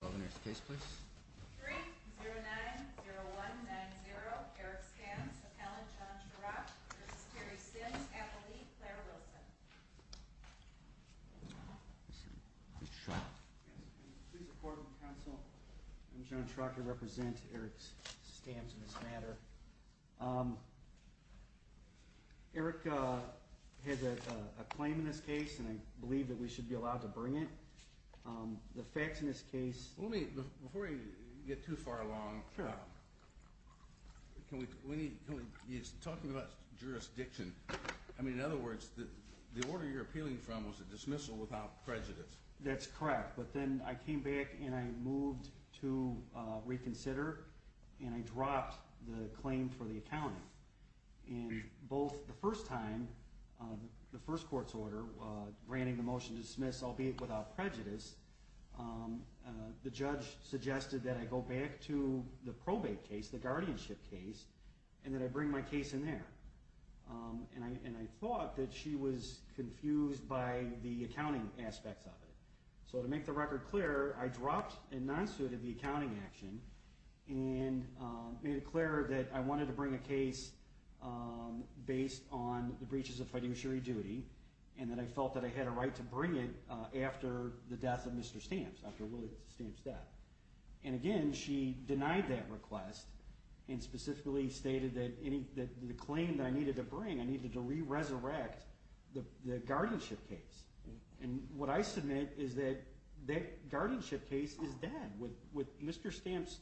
Over to the case please. 3-090190 Eric Stamps v. Alan John Schrock v. Terry Sims. Appellee, Claire Wilson. Please report to the counsel. I'm John Schrock. I represent Eric Stamps in this matter. Eric has a claim in this case and I believe that we should be allowed to bring it. The facts in this case... Before you get too far along, can we... He's talking about jurisdiction. I mean, in other words, the order you're appealing from was a dismissal without prejudice. That's correct, but then I came back and I moved to reconsider and I dropped the claim for the accounting. And both the first time, the first court's order granting the motion to dismiss albeit without prejudice, the judge suggested that I go back to the probate case, the guardianship case, and that I bring my case in there. And I thought that she was confused by the accounting aspects of it. So to make the record clear, I dropped and non-suited the accounting action and made it clear that I wanted to bring a case based on the breaches of fiduciary duty and that I felt that I had a right to bring it after the death of Mr. Stamps, after William Stamps' death. And again, she denied that request and specifically stated that the claim that I needed to bring, I needed to re-resurrect the guardianship case. And what I submit is that that guardianship case is dead. With Mr. Stamps'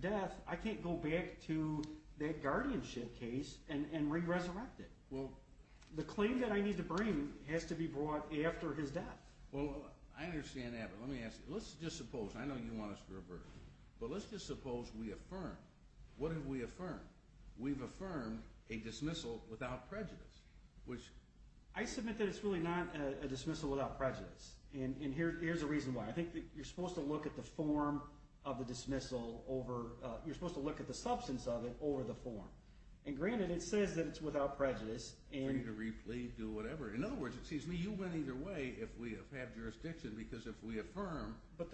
death, I can't go back to that guardianship case and re-resurrect it. The claim that I need to bring has to be brought after his death. Well, I understand that, but let me ask you, let's just suppose, I know you want us to reverse, but let's just suppose we affirm, what have we affirmed? We've affirmed a dismissal without prejudice. I submit that it's really not a dismissal without prejudice, and here's the reason why. I think that you're supposed to look at the form of the dismissal over, you're supposed to look at the substance of it over the form. And granted, it says that it's without prejudice. Free to re-plead, do whatever. In other words, it seems to me you win either way if we have jurisdiction, because if we affirm the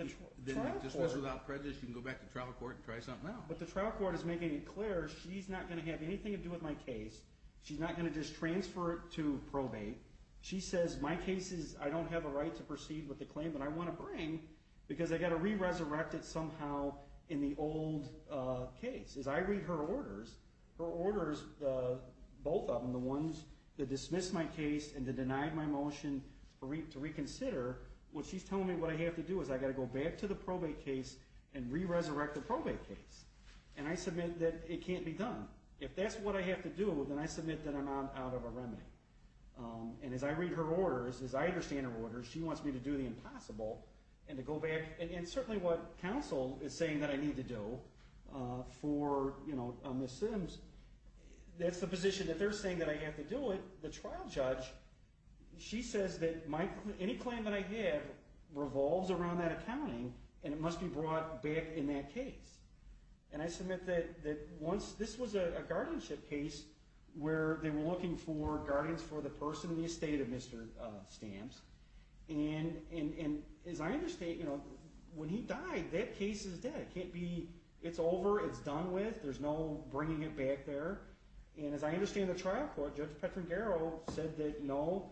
dismissal without prejudice, you can go back to trial court and try something else. But the trial court is making it clear she's not going to have anything to do with my case. She's not going to just transfer it to probate. She says my case is, I don't have a right to proceed with the claim that I want to bring because I've got to re-resurrect it somehow in the old case. As I read her orders, her orders, both of them, the ones to dismiss my case and to deny my motion to reconsider, well, she's telling me what I have to do is I've got to go back to the probate case and re-resurrect the probate case. And I submit that it can't be done. If that's what I have to do, then I submit that I'm out of a remedy. And as I read her orders, as I understand her orders, she wants me to do the impossible and to go back, and certainly what counsel is saying that I need to do for Ms. Sims, that's the position that they're saying that I have to do it. The trial judge, she says that any claim that I have revolves around that accounting and it must be brought back in that case. And I submit that once this was a guardianship case where they were looking for guardians for the person in the estate of Mr. Stamps and as I understand, when he died, that case is dead. It can't be, it's over, it's done with, there's no bringing it back there. And as I understand the trial court, Judge Petrangaro said that, no,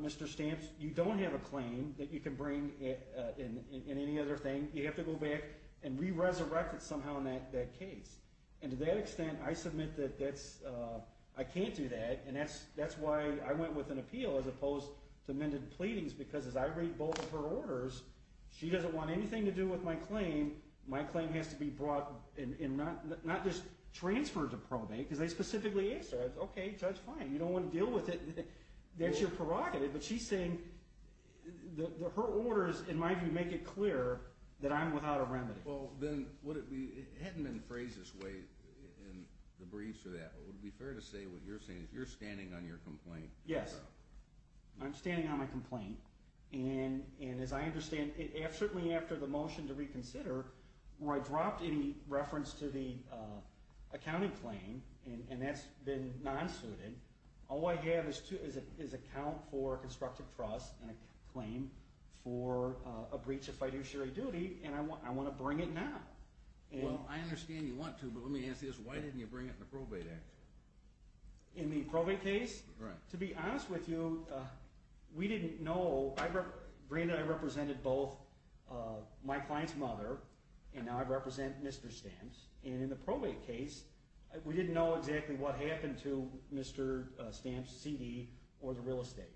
Mr. Stamps, you don't have a claim that you can bring in any other thing. You have to go back and re-resurrect it somehow in that case. And to that extent, I submit that I can't do that and that's why I went with an appeal as opposed to mended pleadings because as I read both of her orders, she doesn't want anything to do with my claim. My claim has to be brought, and not just transferred to probate because they specifically asked her, okay, Judge, fine, you don't want to deal with it. That's your prerogative. But she's saying that her orders, in my view, make it clear that I'm without a remedy. Well, then, hadn't been phrased this way in the briefs or that, but it would be fair to say what you're saying is you're standing on your complaint. Yes. I'm standing on my complaint. And as I understand, certainly after the motion to reconsider, where I dropped any reference to the accounting claim, and that's been non-suited, all I have is a count for constructive trust and a claim for a breach of fiduciary duty, and I want to bring it now. Well, I understand you want to, but let me ask this. Why didn't you bring it in the probate action? In the probate case? Right. To be honest with you, we didn't know. Brandon and I represented both my client's mother, and now I represent Mr. Stamps. And in the probate case, we didn't know exactly what happened to Mr. Stamps' CD or the real estate.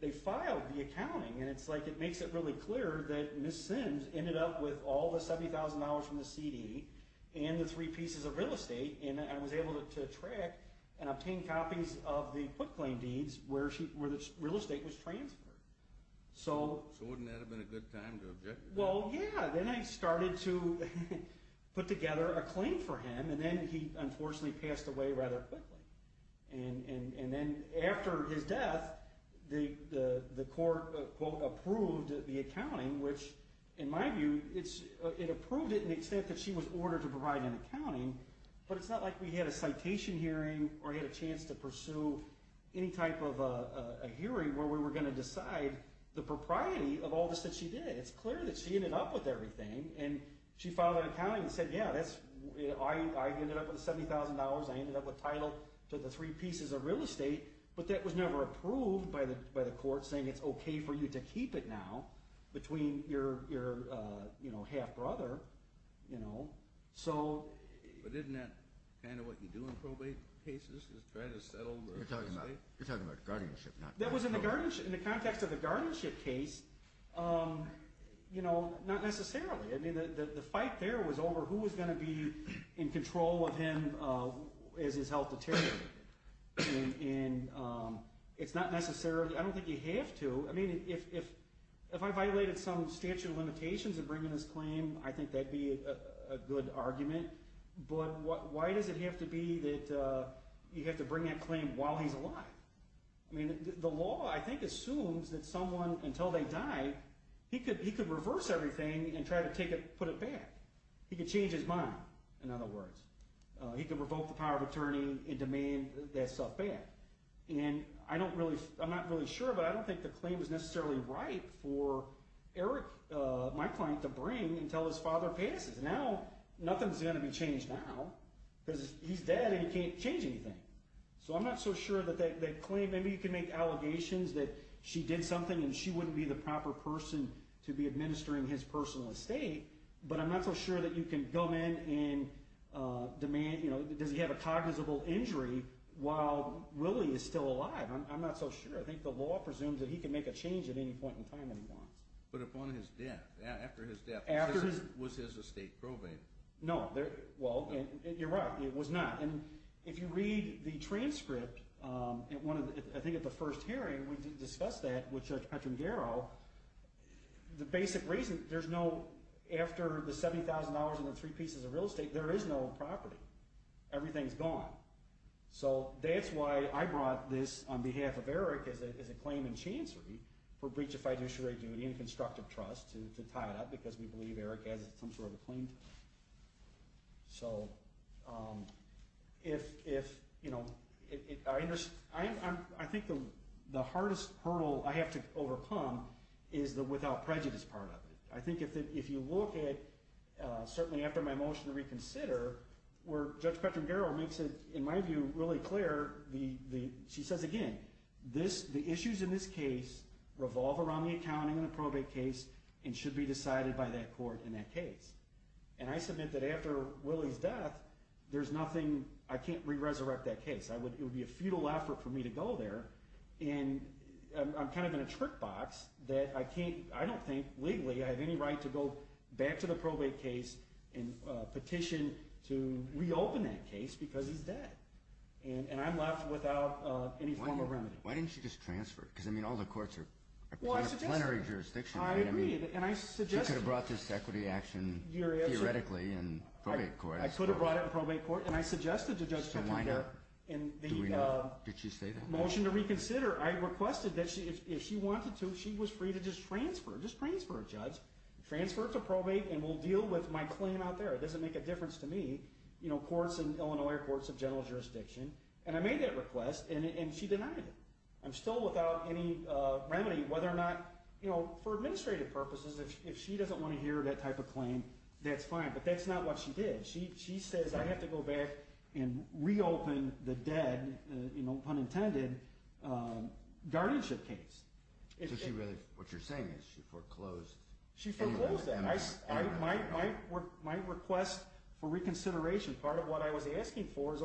They filed the accounting, and it's like it makes it really clear that Ms. Sims ended up with all the $70,000 from the CD and the three pieces of real estate, and I was able to track and obtain copies of the put claim deeds where the real estate was transferred. So wouldn't that have been a good time to object to that? Well, yeah. Then I started to put together a claim for him, and then he unfortunately passed away rather quickly. And then after his death, the court, quote, approved the accounting, which in my view, it approved it in the extent that she was ordered to provide an accounting, but it's not like we had a citation hearing or had a chance to pursue any type of a hearing where we were going to decide the propriety of all this that she did. It's clear that she ended up with everything, and she filed an accounting and said, yeah, I ended up with $70,000. I ended up with title to the three pieces of real estate, but that was never approved by the court saying it's okay for you to keep it now between your half-brother. But isn't that kind of what you do in probate cases, is try to settle the estate? You're talking about guardianship, not probate. That was in the context of the guardianship case, not necessarily. I mean, the fight there was over who was going to be in control of him as his health deteriorated. And it's not necessarily—I don't think you have to. I mean, if I violated some statute of limitations in bringing this claim, I think that would be a good argument. But why does it have to be that you have to bring that claim while he's alive? I mean, the law, I think, assumes that someone, until they die, he could reverse everything and try to put it back. He could change his mind, in other words. He could revoke the power of attorney and demand that stuff back. And I'm not really sure, but I don't think the claim is necessarily right for Eric, my client, to bring until his father passes. Now nothing's going to be changed now because he's dead and he can't change anything. So I'm not so sure that that claim— that she did something and she wouldn't be the proper person to be administering his personal estate. But I'm not so sure that you can come in and demand—does he have a cognizable injury while Willie is still alive? I'm not so sure. I think the law presumes that he can make a change at any point in time that he wants. But upon his death, after his death, was his estate probated? No. Well, you're right. It was not. And if you read the transcript, I think at the first hearing, we discussed that with Judge Petrangaro. The basic reason—there's no—after the $70,000 and the three pieces of real estate, there is no property. Everything's gone. So that's why I brought this on behalf of Eric as a claim in chancery for breach of fiduciary duty and constructive trust to tie it up because we believe Eric has some sort of a claim to it. So if—I think the hardest hurdle I have to overcome is the without prejudice part of it. I think if you look at—certainly after my motion to reconsider, where Judge Petrangaro makes it, in my view, really clear, she says again, the issues in this case revolve around the accounting and the probate case and should be decided by that court in that case. And I submit that after Willie's death, there's nothing—I can't re-resurrect that case. It would be a futile effort for me to go there. And I'm kind of in a trick box that I can't—I don't think legally I have any right to go back to the probate case and petition to reopen that case because he's dead. And I'm left without any formal remedy. Why didn't you just transfer? Because, I mean, all the courts are plenary jurisdictions. I agree. She could have brought this equity action theoretically in probate court. I could have brought it in probate court, and I suggested to Judge Petrangaro— So why not? Did she say that? In the motion to reconsider, I requested that if she wanted to, she was free to just transfer. Just transfer, Judge. Transfer to probate, and we'll deal with my claim out there. It doesn't make a difference to me. Courts in Illinois are courts of general jurisdiction. And I made that request, and she denied it. I'm still without any remedy whether or not, you know, for administrative purposes, if she doesn't want to hear that type of claim, that's fine. But that's not what she did. She says I have to go back and reopen the dead, you know, pun intended, guardianship case. So she really—what you're saying is she foreclosed— She foreclosed that. My request for reconsideration, part of what I was asking for is,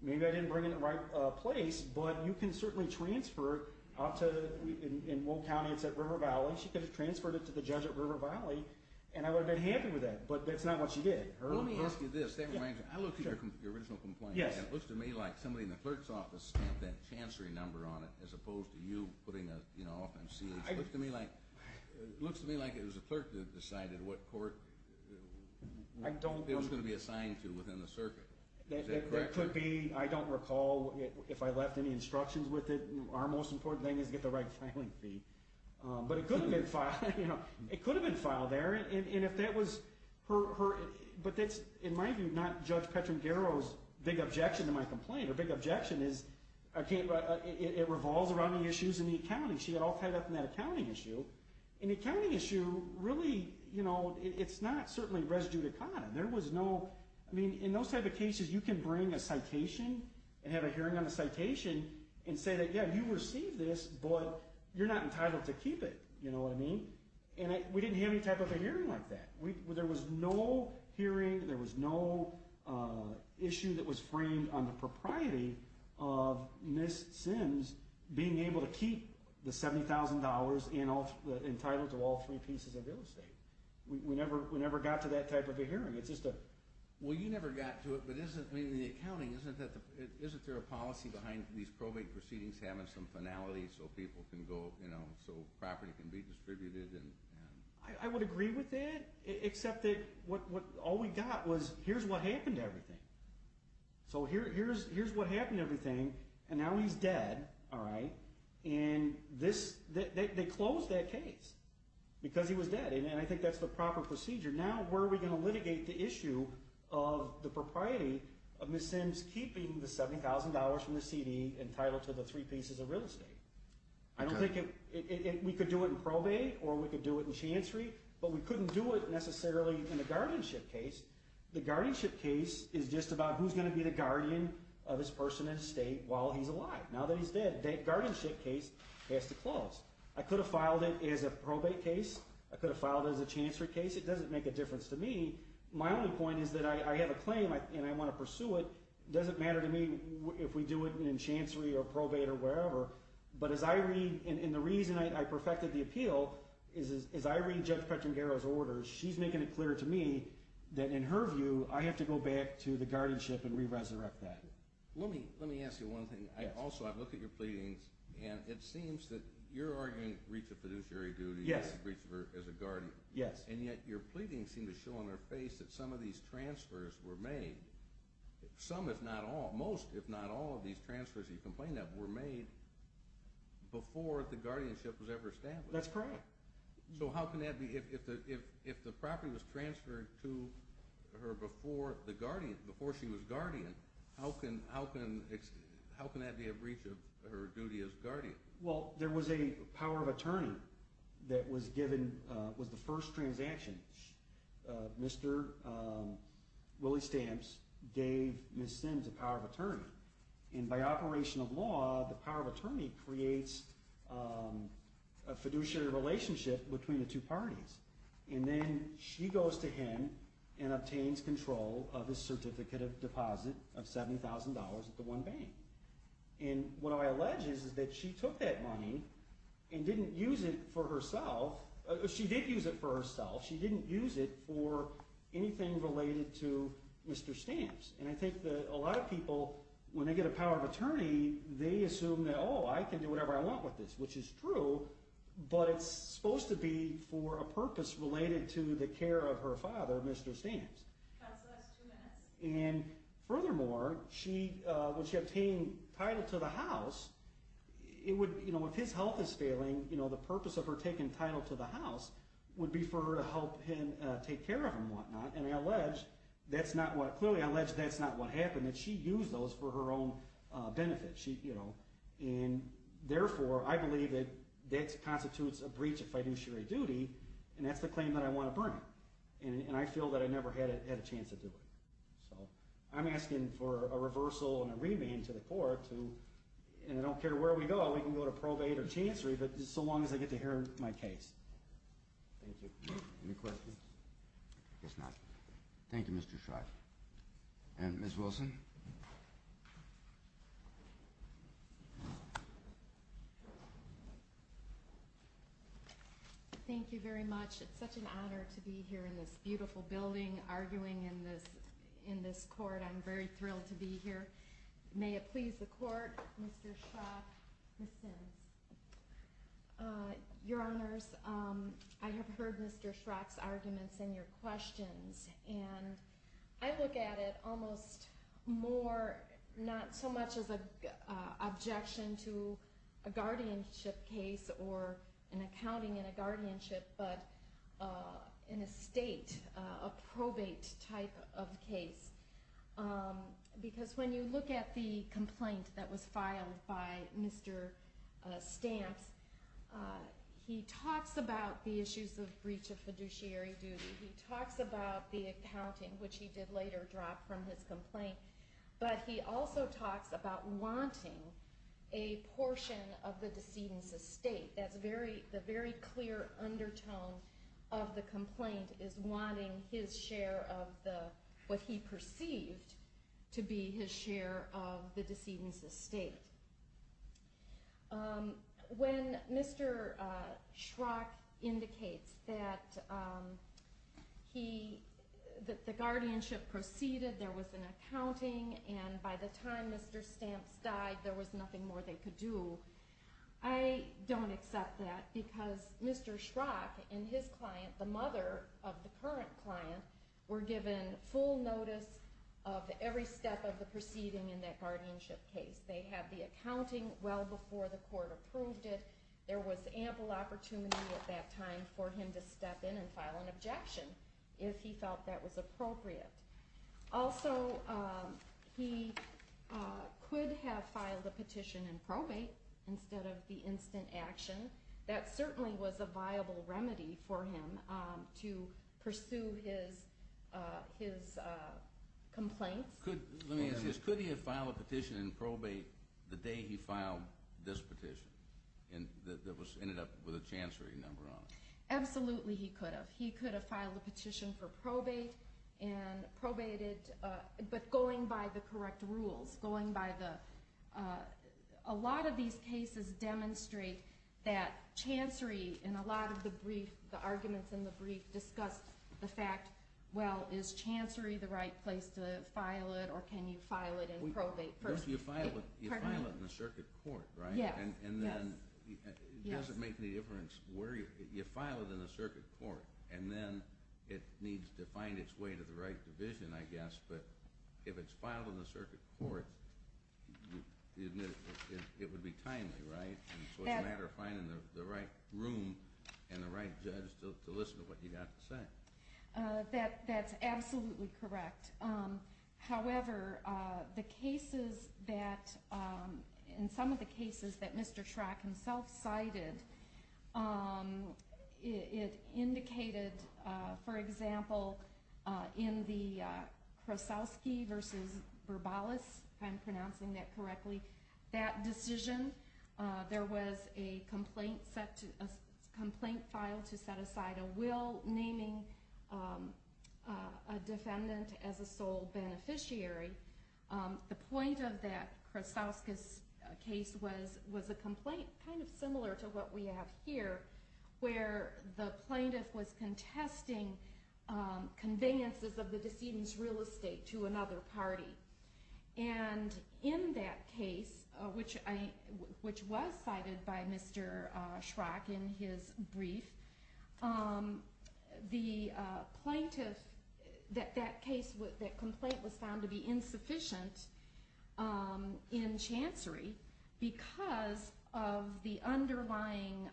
maybe I didn't bring it in the right place, but you can certainly transfer it out to— in Will County, it's at River Valley. She could have transferred it to the judge at River Valley, and I would have been happy with that. But that's not what she did. Let me ask you this. That reminds me. I looked at your original complaint, and it looks to me like somebody in the clerk's office stamped that chancery number on it as opposed to you putting a, you know, off in CH. It looks to me like it was a clerk that decided what court it was going to be assigned to within the circuit. Is that correct? That could be. I don't recall if I left any instructions with it. Our most important thing is to get the right filing fee. But it could have been filed there, and if that was her— but that's, in my view, not Judge Petrangero's big objection to my complaint. Her big objection is it revolves around the issues in the accounting. She got all tied up in that accounting issue. An accounting issue, really, you know, it's not certainly res judicata. There was no—I mean, in those type of cases, you can bring a citation and have a hearing on a citation and say that, yeah, you received this, but you're not entitled to keep it. You know what I mean? And we didn't have any type of a hearing like that. There was no hearing. There was no issue that was framed on the propriety of Ms. Sims being able to keep the $70,000 entitled to all three pieces of real estate. We never got to that type of a hearing. It's just a— Well, you never got to it, but isn't, I mean, in the accounting, isn't there a policy behind these probate proceedings having some finality so people can go, you know, so property can be distributed? I would agree with that, except that all we got was here's what happened to everything. So here's what happened to everything, and now he's dead, all right? And this—they closed that case because he was dead. And I think that's the proper procedure. Now where are we going to litigate the issue of the propriety of Ms. Sims keeping the $70,000 from the CD entitled to the three pieces of real estate? I don't think it—we could do it in probate or we could do it in chancery, but we couldn't do it necessarily in a guardianship case. The guardianship case is just about who's going to be the guardian of this person in estate while he's alive, now that he's dead. That guardianship case has to close. I could have filed it as a probate case. I could have filed it as a chancery case. It doesn't make a difference to me. My only point is that I have a claim and I want to pursue it. It doesn't matter to me if we do it in chancery or probate or wherever. But as I read—and the reason I perfected the appeal is as I read Judge Petrangaro's orders, she's making it clear to me that in her view I have to go back to the guardianship and re-resurrect that. Let me ask you one thing. Also, I look at your pleadings, and it seems that your argument, the breach of fiduciary duty is a breach of her as a guardian. And yet your pleadings seem to show on her face that some of these transfers were made, some if not all, most if not all of these transfers, you complain that, were made before the guardianship was ever established. That's correct. So how can that be? If the property was transferred to her before she was guardian, how can that be a breach of her duty as guardian? Well, there was a power of attorney that was given—was the first transaction. Mr. Willie Stamps gave Ms. Sims a power of attorney. And by operation of law, the power of attorney creates a fiduciary relationship between the two parties. And then she goes to him and obtains control of his certificate of deposit of $70,000 at the one bank. And what I allege is that she took that money and didn't use it for herself. She did use it for herself. She didn't use it for anything related to Mr. Stamps. And I think that a lot of people, when they get a power of attorney, they assume that, oh, I can do whatever I want with this, which is true, but it's supposed to be for a purpose related to the care of her father, Mr. Stamps. That's the last two minutes. And furthermore, when she obtained title to the house, if his health is failing, the purpose of her taking title to the house would be for her to help him take care of him and whatnot. And I allege that's not what—clearly I allege that's not what happened, that she used those for her own benefit. And therefore, I believe that that constitutes a breach of fiduciary duty, and that's the claim that I want to bring. And I feel that I never had a chance to do it. So I'm asking for a reversal and a remand to the court to— and I don't care where we go. We can go to probate or chancery, but so long as I get to hear my case. Thank you. Any questions? I guess not. Thank you, Mr. Schott. And Ms. Wilson? Thank you very much. It's such an honor to be here in this beautiful building arguing in this court. I'm very thrilled to be here. May it please the court, Mr. Schott, Ms. Sims. Your Honors, I have heard Mr. Schott's arguments and your questions, and I look at it almost more not so much as an objection to a guardianship case or an accounting and a guardianship, but in a state, a probate type of case. Because when you look at the complaint that was filed by Mr. Stamps, he talks about the issues of breach of fiduciary duty. He talks about the accounting, which he did later drop from his complaint. But he also talks about wanting a portion of the decedent's estate. The very clear undertone of the complaint is wanting his share of what he perceived to be his share of the decedent's estate. When Mr. Schrock indicates that the guardianship proceeded, there was an accounting, and by the time Mr. Stamps died, there was nothing more they could do, I don't accept that. Because Mr. Schrock and his client, the mother of the current client, were given full notice of every step of the proceeding in that guardianship case. They had the accounting well before the court approved it. There was ample opportunity at that time for him to step in and file an objection if he felt that was appropriate. Also, he could have filed a petition in probate instead of the instant action. That certainly was a viable remedy for him to pursue his complaints. Let me ask you this. Could he have filed a petition in probate the day he filed this petition that ended up with a chancery number on it? Absolutely he could have. He could have filed a petition for probate, but going by the correct rules. A lot of these cases demonstrate that chancery in a lot of the brief, the arguments in the brief discuss the fact, well, is chancery the right place to file it, or can you file it in probate first? You file it in the circuit court, right? Yes. It doesn't make any difference where you file it in the circuit court, and then it needs to find its way to the right division, I guess. But if it's filed in the circuit court, it would be timely, right? So it's a matter of finding the right room and the right judge to listen to what you have to say. That's absolutely correct. However, the cases that, in some of the cases that Mr. Trach himself cited, it indicated, for example, in the Krosowski v. Berbales, if I'm pronouncing that correctly, that decision, there was a complaint filed to set aside a will naming a defendant as a sole beneficiary. The point of that Krosowski case was a complaint kind of similar to what we have here, where the plaintiff was contesting conveniences of the decedent's real estate to another party. And in that case, which was cited by Mr. Schrock in his brief, the plaintiff, that case, that complaint was found to be insufficient in chancery because of the underlying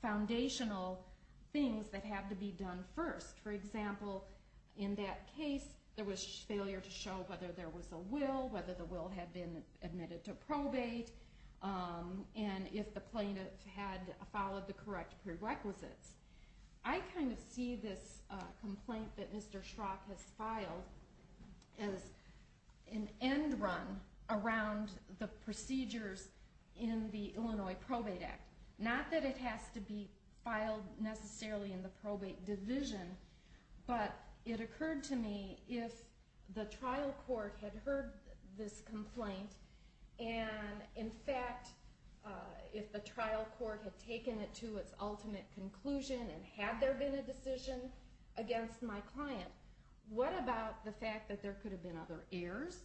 foundational things that had to be done first. For example, in that case, there was failure to show whether there was a will, whether the will had been admitted to probate, and if the plaintiff had followed the correct prerequisites. I kind of see this complaint that Mr. Schrock has filed as an end run around the procedures in the Illinois Probate Act. Not that it has to be filed necessarily in the probate division, but it occurred to me, if the trial court had heard this complaint, and in fact, if the trial court had taken it to its ultimate conclusion, and had there been a decision against my client, what about the fact that there could have been other errors?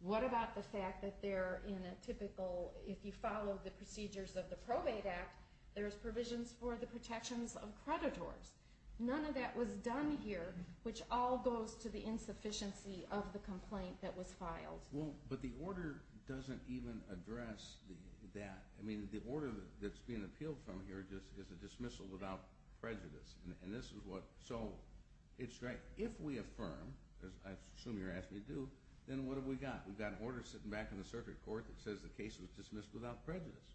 What about the fact that if you follow the procedures of the Probate Act, there's provisions for the protections of creditors? None of that was done here, which all goes to the insufficiency of the complaint that was filed. But the order doesn't even address that. I mean, the order that's being appealed from here is a dismissal without prejudice. So, it's right. If we affirm, as I assume you're asking me to do, then what have we got? We've got an order sitting back in the circuit court that says the case was dismissed without prejudice.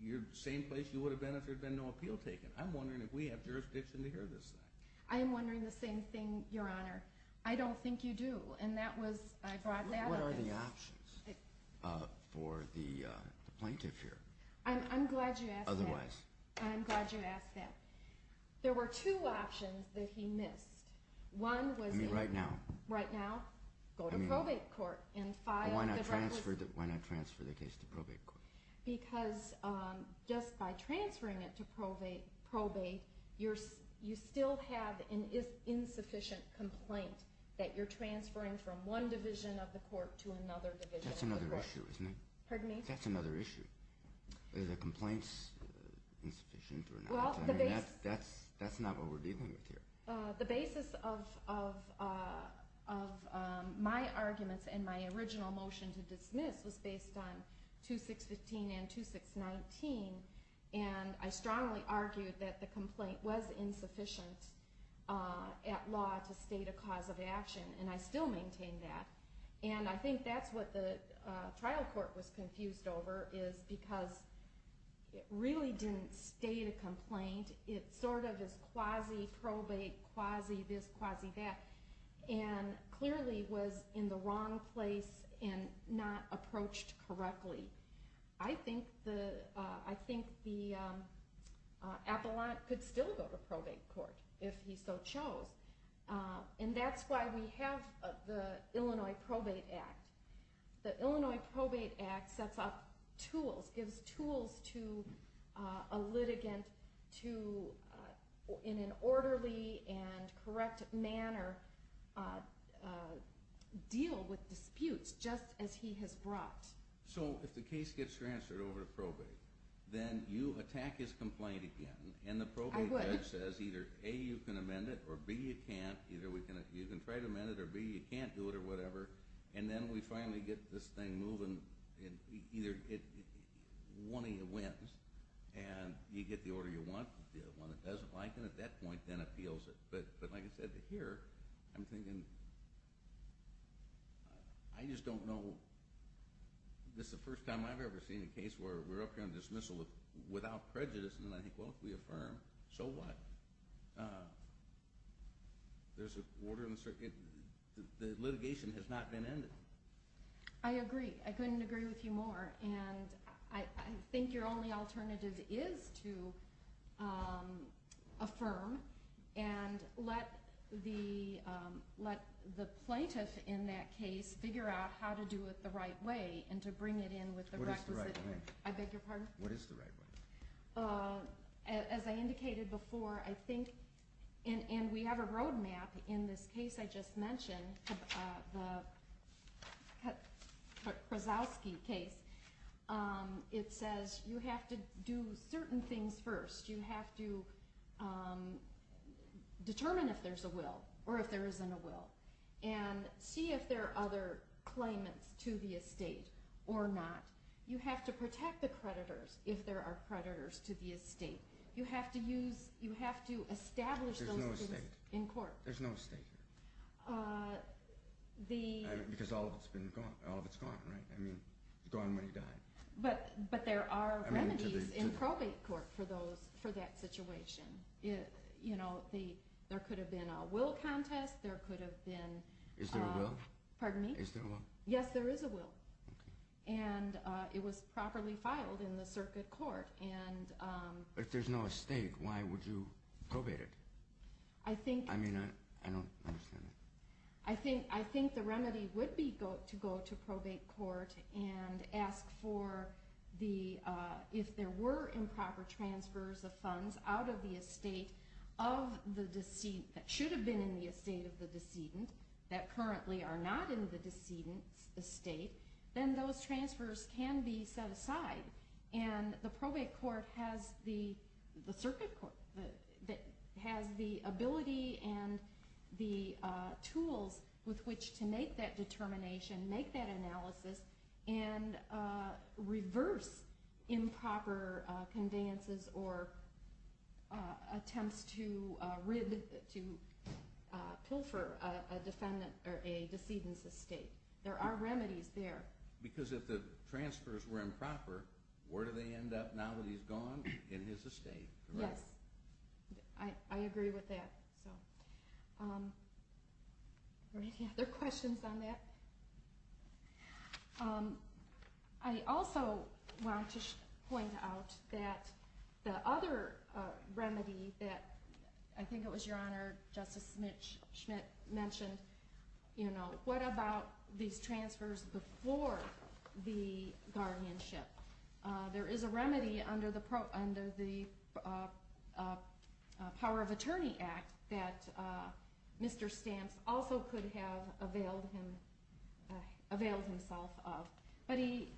You're in the same place you would have been if there had been no appeal taken. I'm wondering if we have jurisdiction to hear this thing. I am wondering the same thing, Your Honor. I don't think you do. What are the options for the plaintiff here? I'm glad you asked that. Otherwise? I'm glad you asked that. There were two options that he missed. I mean, right now. Right now, go to probate court. Why not transfer the case to probate court? Because just by transferring it to probate, you still have an insufficient complaint that you're transferring from one division of the court to another division of the court. That's another issue, isn't it? Pardon me? That's another issue. Is a complaint insufficient or not? That's not what we're dealing with here. The basis of my arguments and my original motion to dismiss was based on 2615 and 2619, and I strongly argued that the complaint was insufficient at law to state a cause of action, and I still maintain that. And I think that's what the trial court was confused over is because it really didn't state a complaint. It sort of is quasi probate, quasi this, quasi that, and clearly was in the wrong place and not approached correctly. I think the appellant could still go to probate court if he so chose, and that's why we have the Illinois Probate Act. The Illinois Probate Act sets up tools, gives tools to a litigant to, in an orderly and correct manner, deal with disputes just as he has brought. So if the case gets transferred over to probate, then you attack his complaint again, and the probate judge says either, A, you can amend it or, B, you can't. Either you can try to amend it or, B, you can't do it or whatever, and then we finally get this thing moving, and either one of you wins, and you get the order you want. The one that doesn't like it at that point then appeals it. But like I said, here I'm thinking I just don't know. This is the first time I've ever seen a case where we're up here on dismissal without prejudice, and then I think, well, if we affirm, so what? There's an order in the circuit. The litigation has not been ended. I agree. I couldn't agree with you more, and I think your only alternative is to affirm and let the plaintiff in that case figure out how to do it the right way and to bring it in with the requisite. What is the right way? I beg your pardon? What is the right way? As I indicated before, I think, and we have a roadmap in this case I just mentioned, the Krasowski case. It says you have to do certain things first. You have to determine if there's a will or if there isn't a will and see if there are other claimants to the estate or not. You have to protect the creditors if there are creditors to the estate. You have to establish those things in court. There's no estate here? Because all of it's gone, right? It's gone when he died. But there are remedies in probate court for that situation. There could have been a will contest. Is there a will? Pardon me? Is there a will? Yes, there is a will. And it was properly filed in the circuit court. But if there's no estate, why would you probate it? I don't understand that. I think the remedy would be to go to probate court and ask if there were improper transfers of funds out of the estate that should have been in the estate of the decedent that currently are not in the decedent's estate, then those transfers can be set aside. And the probate court has the ability and the tools with which to make that determination, make that analysis, and reverse improper conveyances or attempts to pilfer a decedent's estate. There are remedies there. Because if the transfers were improper, where do they end up now that he's gone in his estate? Yes, I agree with that. Are there any other questions on that? I also want to point out that the other remedy that I think it was Your Honor, Justice Schmidt mentioned, what about these transfers before the guardianship? There is a remedy under the Power of Attorney Act that Mr. Stamps also could have availed himself of. But he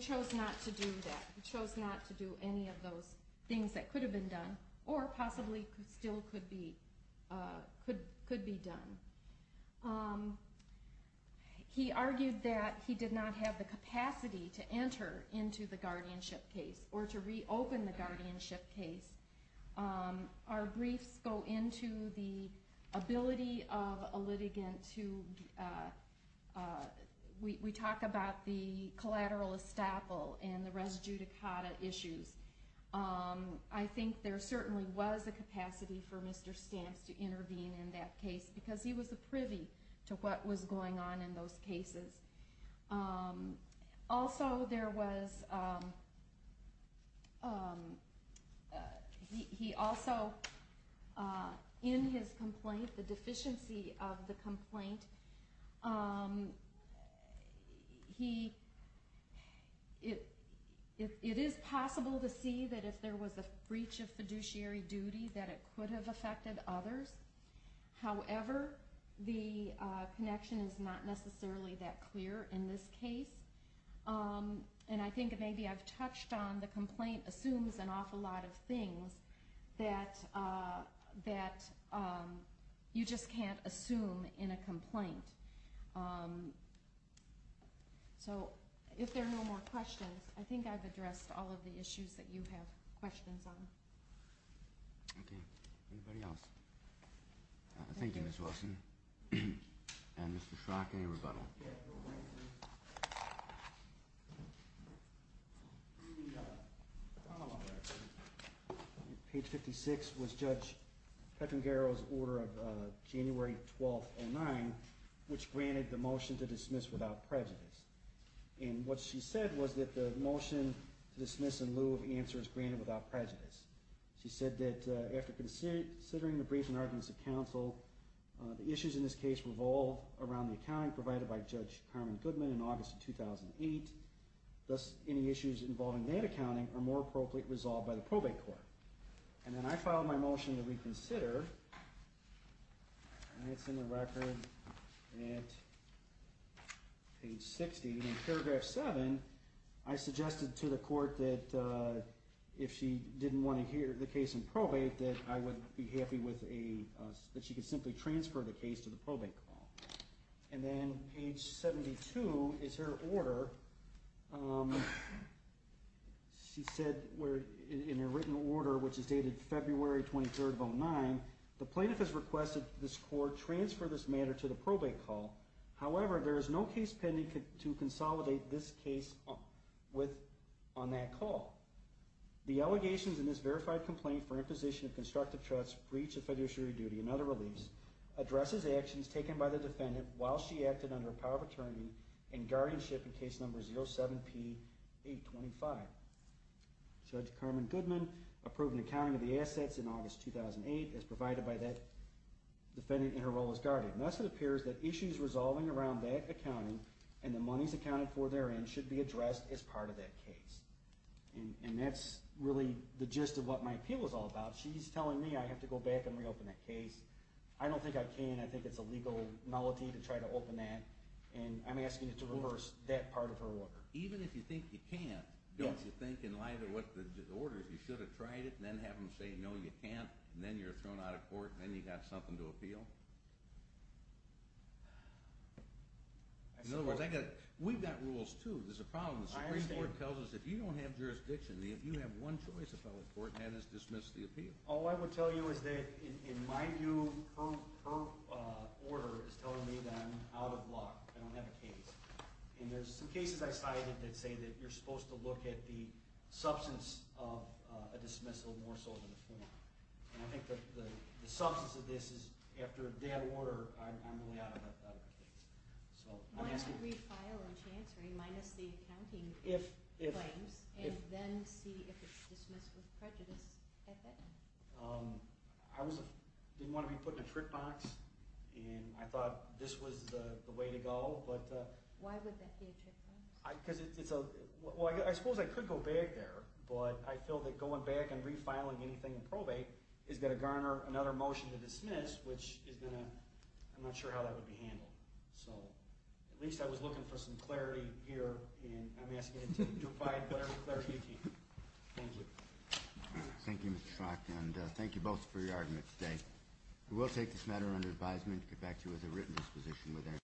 chose not to do that. He chose not to do any of those things that could have been done or possibly still could be done. He argued that he did not have the capacity to enter into the guardianship case or to reopen the guardianship case. Our briefs go into the ability of a litigant to, we talk about the collateral estoppel and the res judicata issues. I think there certainly was a capacity for Mr. Stamps to intervene in that case because he was a privy to what was going on in those cases. Also, there was, he also, in his complaint, the deficiency of the complaint, it is possible to see that if there was a breach of fiduciary duty that it could have affected others. However, the connection is not necessarily that clear in this case. And I think maybe I've touched on the complaint assumes an awful lot of things that you just can't assume in a complaint. So if there are no more questions, I think I've addressed all of the issues that you have questions on. Okay. Anybody else? Thank you, Ms. Wilson. And Mr. Schrock, any rebuttal? Page 56 was Judge Petrangero's order of January 12th, 2009, which granted the motion to dismiss without prejudice. And what she said was that the motion to dismiss was in lieu of answers granted without prejudice. She said that after considering the brief and arguments of counsel, the issues in this case revolve around the accounting provided by Judge Carmen Goodman in August of 2008, thus any issues involving that accounting are more appropriately resolved by the probate court. And then I filed my motion to reconsider, and it's in the record at page 60. And in paragraph 7, I suggested to the court that if she didn't want to hear the case in probate, that I would be happy that she could simply transfer the case to the probate court. And then page 72 is her order. She said in her written order, which is dated February 23rd of 2009, the plaintiff has requested this court transfer this matter to the probate court. However, there is no case pending to consolidate this case on that call. The allegations in this verified complaint for imposition of constructive trust, breach of fiduciary duty, and other reliefs addresses actions taken by the defendant while she acted under power of attorney and guardianship in case number 07P825. Judge Carmen Goodman approved an accounting of the assets in August 2008 as provided by that defendant in her role as guardian. Thus it appears that issues resolving around that accounting and the monies accounted for therein should be addressed as part of that case. And that's really the gist of what my appeal is all about. She's telling me I have to go back and reopen that case. I don't think I can. I think it's a legal malady to try to open that, and I'm asking you to reverse that part of her order. Even if you think you can't, don't you think in light of what the order is, you should have tried it and then have them say no, you can't, and then you're thrown out of court and then you have something to appeal? In other words, we've got rules too. There's a problem. The Supreme Court tells us if you don't have jurisdiction, if you have one choice to file a court, that is dismiss the appeal. All I would tell you is that in my view, her order is telling me that I'm out of luck. I don't have a case. And there's some cases I cited that say that you're supposed to look at the substance of a dismissal more so than the form. And I think the substance of this is after a dead order, I'm really out of a case. So I'm asking you. Why not refile when she's answering, minus the accounting claims, and then see if it's dismissed with prejudice at that time? I didn't want to be put in a trick box, and I thought this was the way to go. Why would that be a trick box? Well, I suppose I could go back there, but I feel that going back and refiling anything in probate is going to garner another motion to dismiss, which is going to— I'm not sure how that would be handled. So at least I was looking for some clarity here, and I'm asking you to provide better clarity to your team. Thank you. Thank you, Mr. Schlock, and thank you both for your argument today. We will take this matter under advisement and get back to you as a written disposition.